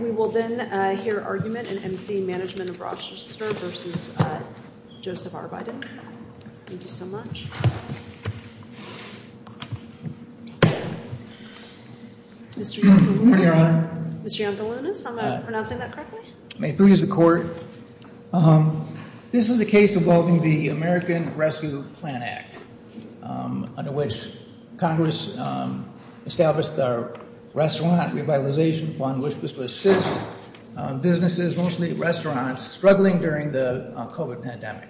We will then hear argument in M.C. Management of Rochester v. Joseph R. Biden. Thank you so much. Mr. Yampa-Lunas. Mr. Yampa-Lunas, am I pronouncing that correctly? May it please the Court. This is a case involving the American Rescue Plan Act, under which Congress established the Restaurant Revitalization Fund, which was to assist businesses, mostly restaurants, struggling during the COVID pandemic.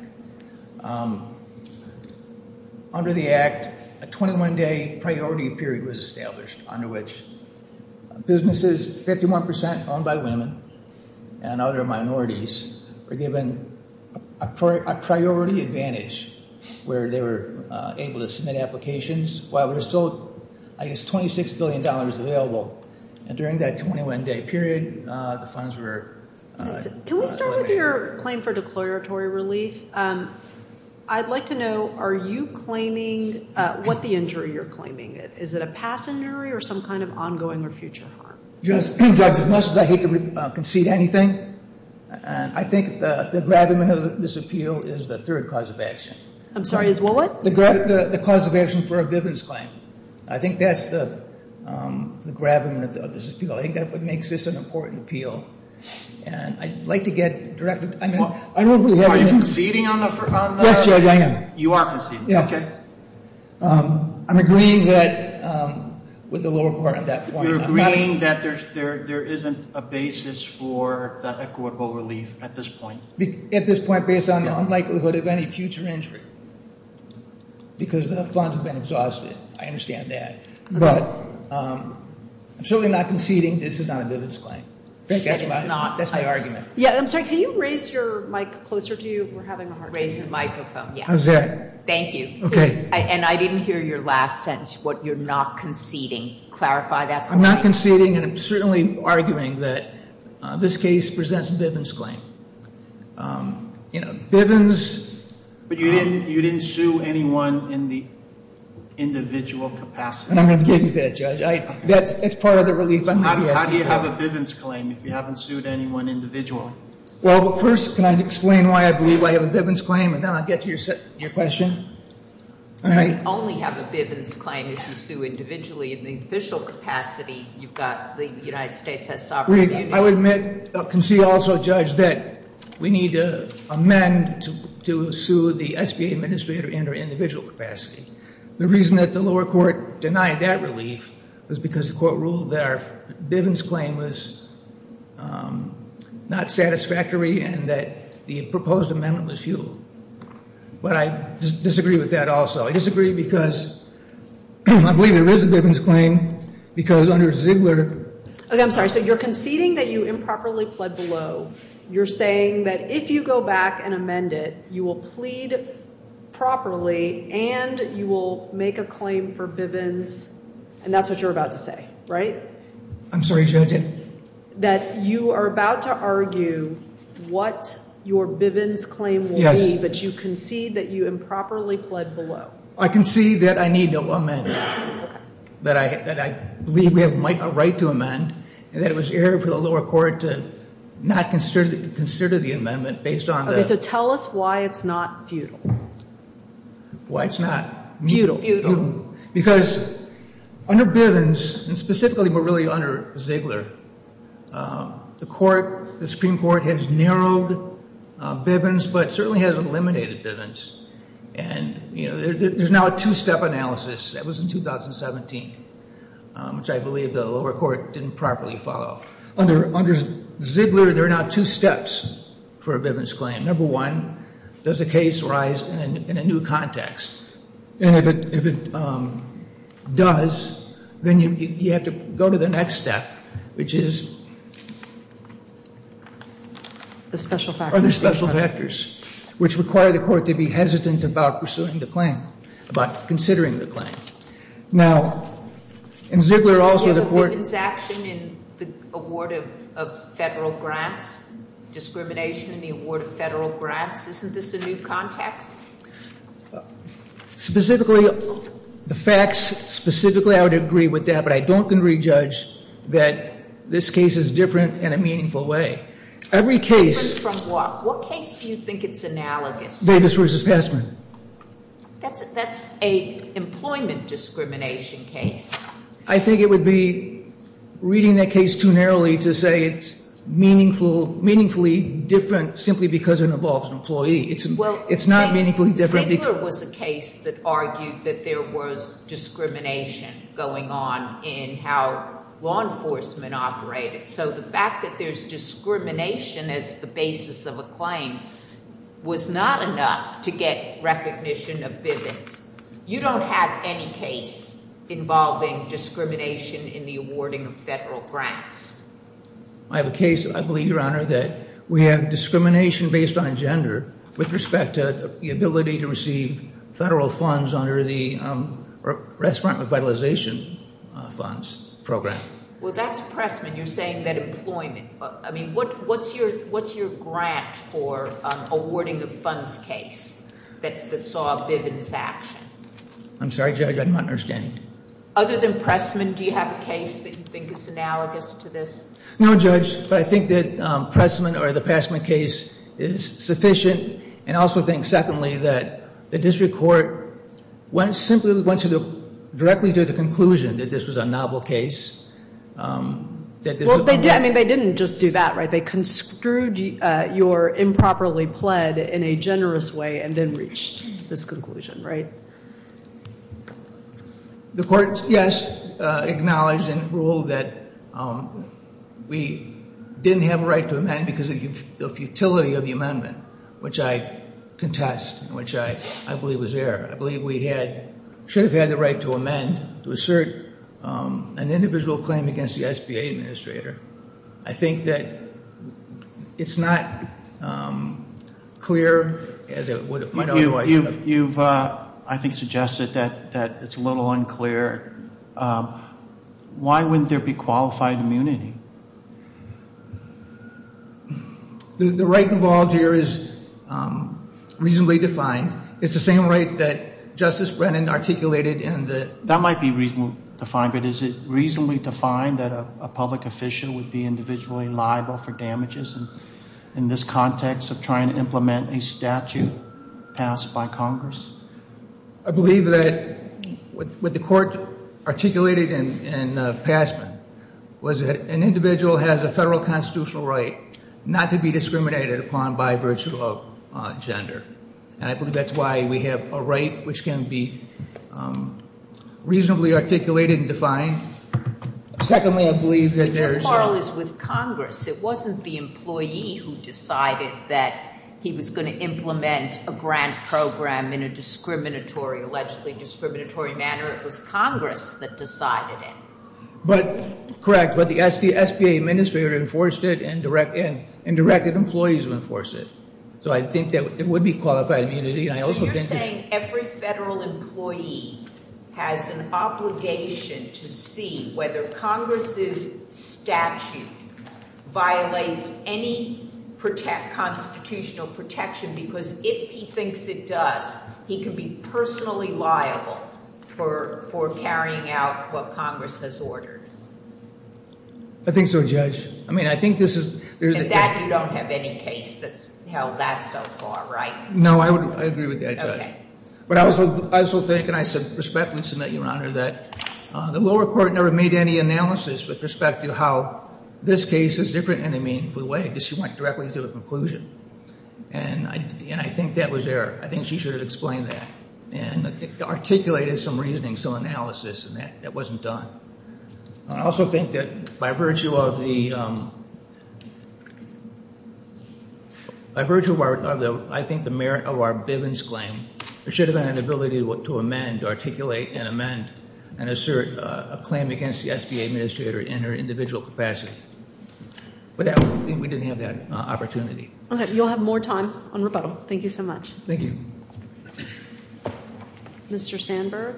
Under the act, a 21-day priority period was established, under which businesses, 51 percent owned by women and other minorities, were given a priority advantage where they were able to submit applications, while there was still, I guess, $26 billion available. And during that 21-day period, the funds were elevated. Can we start with your claim for declaratory relief? I'd like to know, are you claiming what the injury you're claiming is? Is it a passing injury or some kind of ongoing or future harm? Judge, as much as I hate to concede anything, I think the gravamen of this appeal is the third cause of action. I'm sorry, is what? The cause of action for a grievance claim. I think that's the gravamen of this appeal. I think that's what makes this an important appeal. And I'd like to get directly to you. Are you conceding on the… Yes, Judge, I am. You are conceding. Yes. I'm agreeing with the lower court on that point. You're agreeing that there isn't a basis for equitable relief at this point? At this point, based on the unlikelihood of any future injury, because the funds have been exhausted. I understand that. But I'm certainly not conceding. This is not a grievance claim. That's my argument. Yeah, I'm sorry, can you raise your mic closer to you? Raise the microphone, yeah. How's that? Thank you. Okay. And I didn't hear your last sentence, what you're not conceding. Clarify that for me. I'm not conceding, and I'm certainly arguing that this case presents a bivens claim. You know, bivens… But you didn't sue anyone in the individual capacity? I'm going to give you that, Judge. That's part of the relief I'm going to be asking for. How do you have a bivens claim if you haven't sued anyone individually? Well, first, can I explain why I believe I have a bivens claim? And then I'll get to your question. You only have a bivens claim if you sue individually. In the official capacity, you've got the United States has sovereignty. I would admit, concede also, Judge, that we need to amend to sue the SBA administrator in her individual capacity. The reason that the lower court denied that relief was because the court ruled that our bivens claim was not satisfactory and that the proposed amendment was futile. But I disagree with that also. I disagree because I believe there is a bivens claim because under Ziegler… Okay, I'm sorry. So you're conceding that you improperly pled below. You're saying that if you go back and amend it, you will plead properly and you will make a claim for bivens, and that's what you're about to say, right? I'm sorry, Judge. That you are about to argue what your bivens claim will be, but you concede that you improperly pled below. I concede that I need to amend it, that I believe we have a right to amend, and that it was error for the lower court to not consider the amendment based on the… Okay, so tell us why it's not futile. Why it's not… Futile. Because under bivens, and specifically but really under Ziegler, the Supreme Court has narrowed bivens but certainly has eliminated bivens, and there's now a two-step analysis. That was in 2017, which I believe the lower court didn't properly follow. Under Ziegler, there are now two steps for a bivens claim. Number one, does the case rise in a new context? And if it does, then you have to go to the next step, which is… The special factors. Other special factors, which require the court to be hesitant about pursuing the claim, about considering the claim. Now, in Ziegler, also the court… Bivens action in the award of federal grants, discrimination in the award of federal grants, isn't this a new context? Specifically, the facts, specifically I would agree with that, but I don't can re-judge that this case is different in a meaningful way. Every case… Different from what? What case do you think it's analogous? Davis v. Passman. That's an employment discrimination case. I think it would be reading that case too narrowly to say it's meaningfully different simply because it involves an employee. It's not meaningfully different… It's a case that argued that there was discrimination going on in how law enforcement operated. So the fact that there's discrimination as the basis of a claim was not enough to get recognition of Bivens. You don't have any case involving discrimination in the awarding of federal grants. I have a case, I believe, Your Honor, that we have discrimination based on gender with respect to the ability to receive federal funds under the Respirant Revitalization Funds Program. Well, that's Pressman. You're saying that employment… I mean, what's your grant for awarding the funds case that saw Bivens action? I'm sorry, Judge, I do not understand. Other than Pressman, do you have a case that you think is analogous to this? No, Judge, but I think that Pressman or the Passman case is sufficient. And I also think, secondly, that the district court simply went to directly to the conclusion that this was a novel case. Well, they did. I mean, they didn't just do that, right? They construed your improperly pled in a generous way and then reached this conclusion, right? The court, yes, acknowledged and ruled that we didn't have a right to amend because of the futility of the amendment, which I contest, which I believe was there. I believe we should have had the right to amend to assert an individual claim against the SBA administrator. I think that it's not clear as it would have been otherwise. You've, I think, suggested that it's a little unclear. Why wouldn't there be qualified immunity? The right involved here is reasonably defined. It's the same right that Justice Brennan articulated in the ‑‑ That might be reasonably defined, but is it reasonably defined that a public official would be individually liable for damages in this context of trying to implement a statute passed by Congress? I believe that what the court articulated in Passman was that an individual has a federal constitutional right not to be discriminated upon by virtue of gender, and I believe that's why we have a right which can be reasonably articulated and defined. Secondly, I believe that there is a ‑‑ The moral is with Congress. It wasn't the employee who decided that he was going to implement a grant program in a discriminatory, allegedly discriminatory manner. It was Congress that decided it. Correct, but the SBA administrator enforced it and directed employees to enforce it. So I think that there would be qualified immunity. So you're saying every federal employee has an obligation to see whether Congress' statute violates any constitutional protection because if he thinks it does, he can be personally liable for carrying out what Congress has ordered? I think so, Judge. I mean, I think this is ‑‑ And that you don't have any case that's held that so far, right? No, I agree with that, Judge. Okay. But I also think, and I respectfully submit, Your Honor, that the lower court never made any analysis with respect to how this case is different in a meaningful way because she went directly to a conclusion, and I think that was there. I think she should have explained that and articulated some reasoning, some analysis, and that wasn't done. I also think that by virtue of the ‑‑ by virtue of I think the merit of our Bivens claim, there should have been an ability to amend, articulate and amend and assert a claim against the SBA administrator in her individual capacity. But we didn't have that opportunity. Okay. You'll have more time on rebuttal. Thank you so much. Thank you. Mr. Sandberg.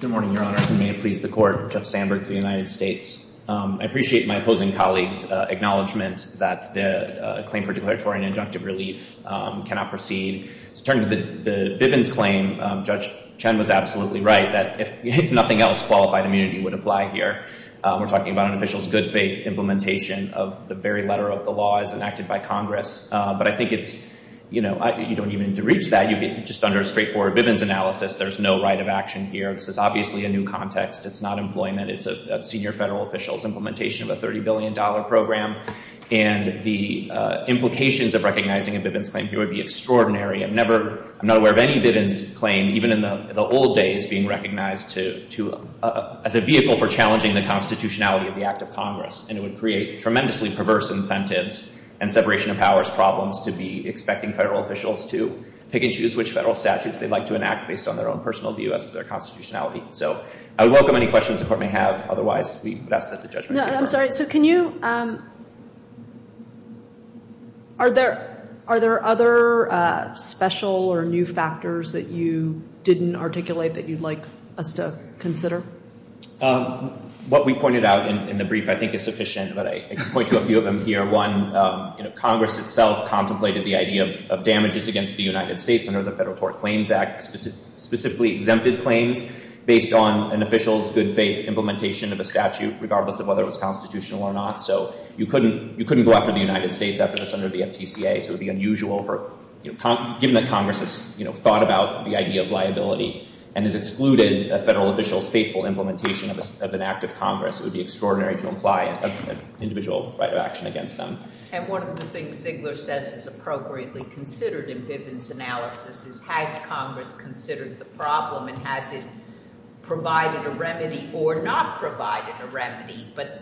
Good morning, Your Honors, and may it please the court, Judge Sandberg of the United States. I appreciate my opposing colleague's acknowledgement that the claim for declaratory and injunctive relief cannot proceed. To turn to the Bivens claim, Judge Chen was absolutely right, that if nothing else, qualified immunity would apply here. We're talking about an official's good faith implementation of the very letter of the law as enacted by Congress. But I think it's, you know, you don't even need to reach that. Just under a straightforward Bivens analysis, there's no right of action here. This is obviously a new context. It's not employment. It's a senior federal official's implementation of a $30 billion program. And the implications of recognizing a Bivens claim here would be extraordinary. I'm not aware of any Bivens claim, even in the old days, being recognized as a vehicle for challenging the constitutionality of the Act of Congress. And it would create tremendously perverse incentives and separation of powers problems to be expecting federal officials to pick and choose which federal statutes they'd like to enact based on their own personal view as to their constitutionality. So I would welcome any questions the Court may have. Otherwise, we would ask that the judgment be heard. No, I'm sorry. So can you – are there other special or new factors that you didn't articulate that you'd like us to consider? What we pointed out in the brief, I think, is sufficient. But I can point to a few of them here. One, Congress itself contemplated the idea of damages against the United States under the Federal Tort Claims Act, specifically exempted claims, based on an official's good faith implementation of a statute, regardless of whether it was constitutional or not. So you couldn't go after the United States after this under the FTCA. So it would be unusual for – given that Congress has thought about the idea of liability and has excluded a federal official's faithful implementation of an Act of Congress, it would be extraordinary to imply an individual right of action against them. And one of the things Ziegler says is appropriately considered in Bivens' analysis is has Congress considered the problem and has it provided a remedy or not provided a remedy, but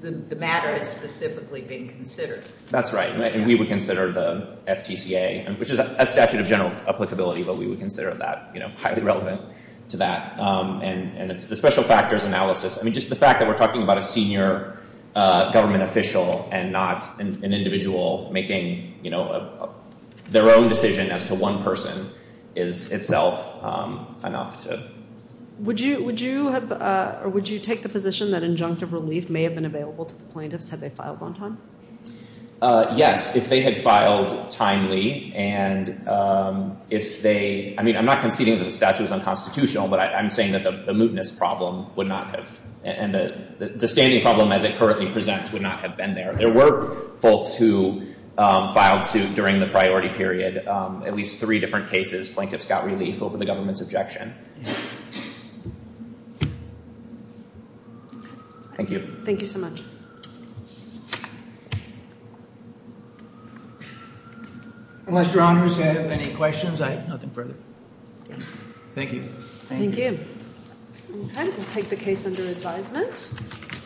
the matter has specifically been considered. That's right. And we would consider the FTCA, which is a statute of general applicability, but we would consider that highly relevant to that. And it's the special factors analysis. I mean, just the fact that we're talking about a senior government official and not an individual making their own decision as to one person is itself enough to – Would you take the position that injunctive relief may have been available to the plaintiffs had they filed on time? Yes, if they had filed timely and if they – I mean, I'm not conceding that the statute is unconstitutional, but I'm saying that the mootness problem would not have – and the standing problem as it currently presents would not have been there. There were folks who filed suit during the priority period, at least three different cases. Plaintiffs got relief over the government's objection. Thank you. Thank you so much. Unless Your Honors have any questions, I have nothing further. Thank you. Thank you. Okay, we'll take the case under advisement.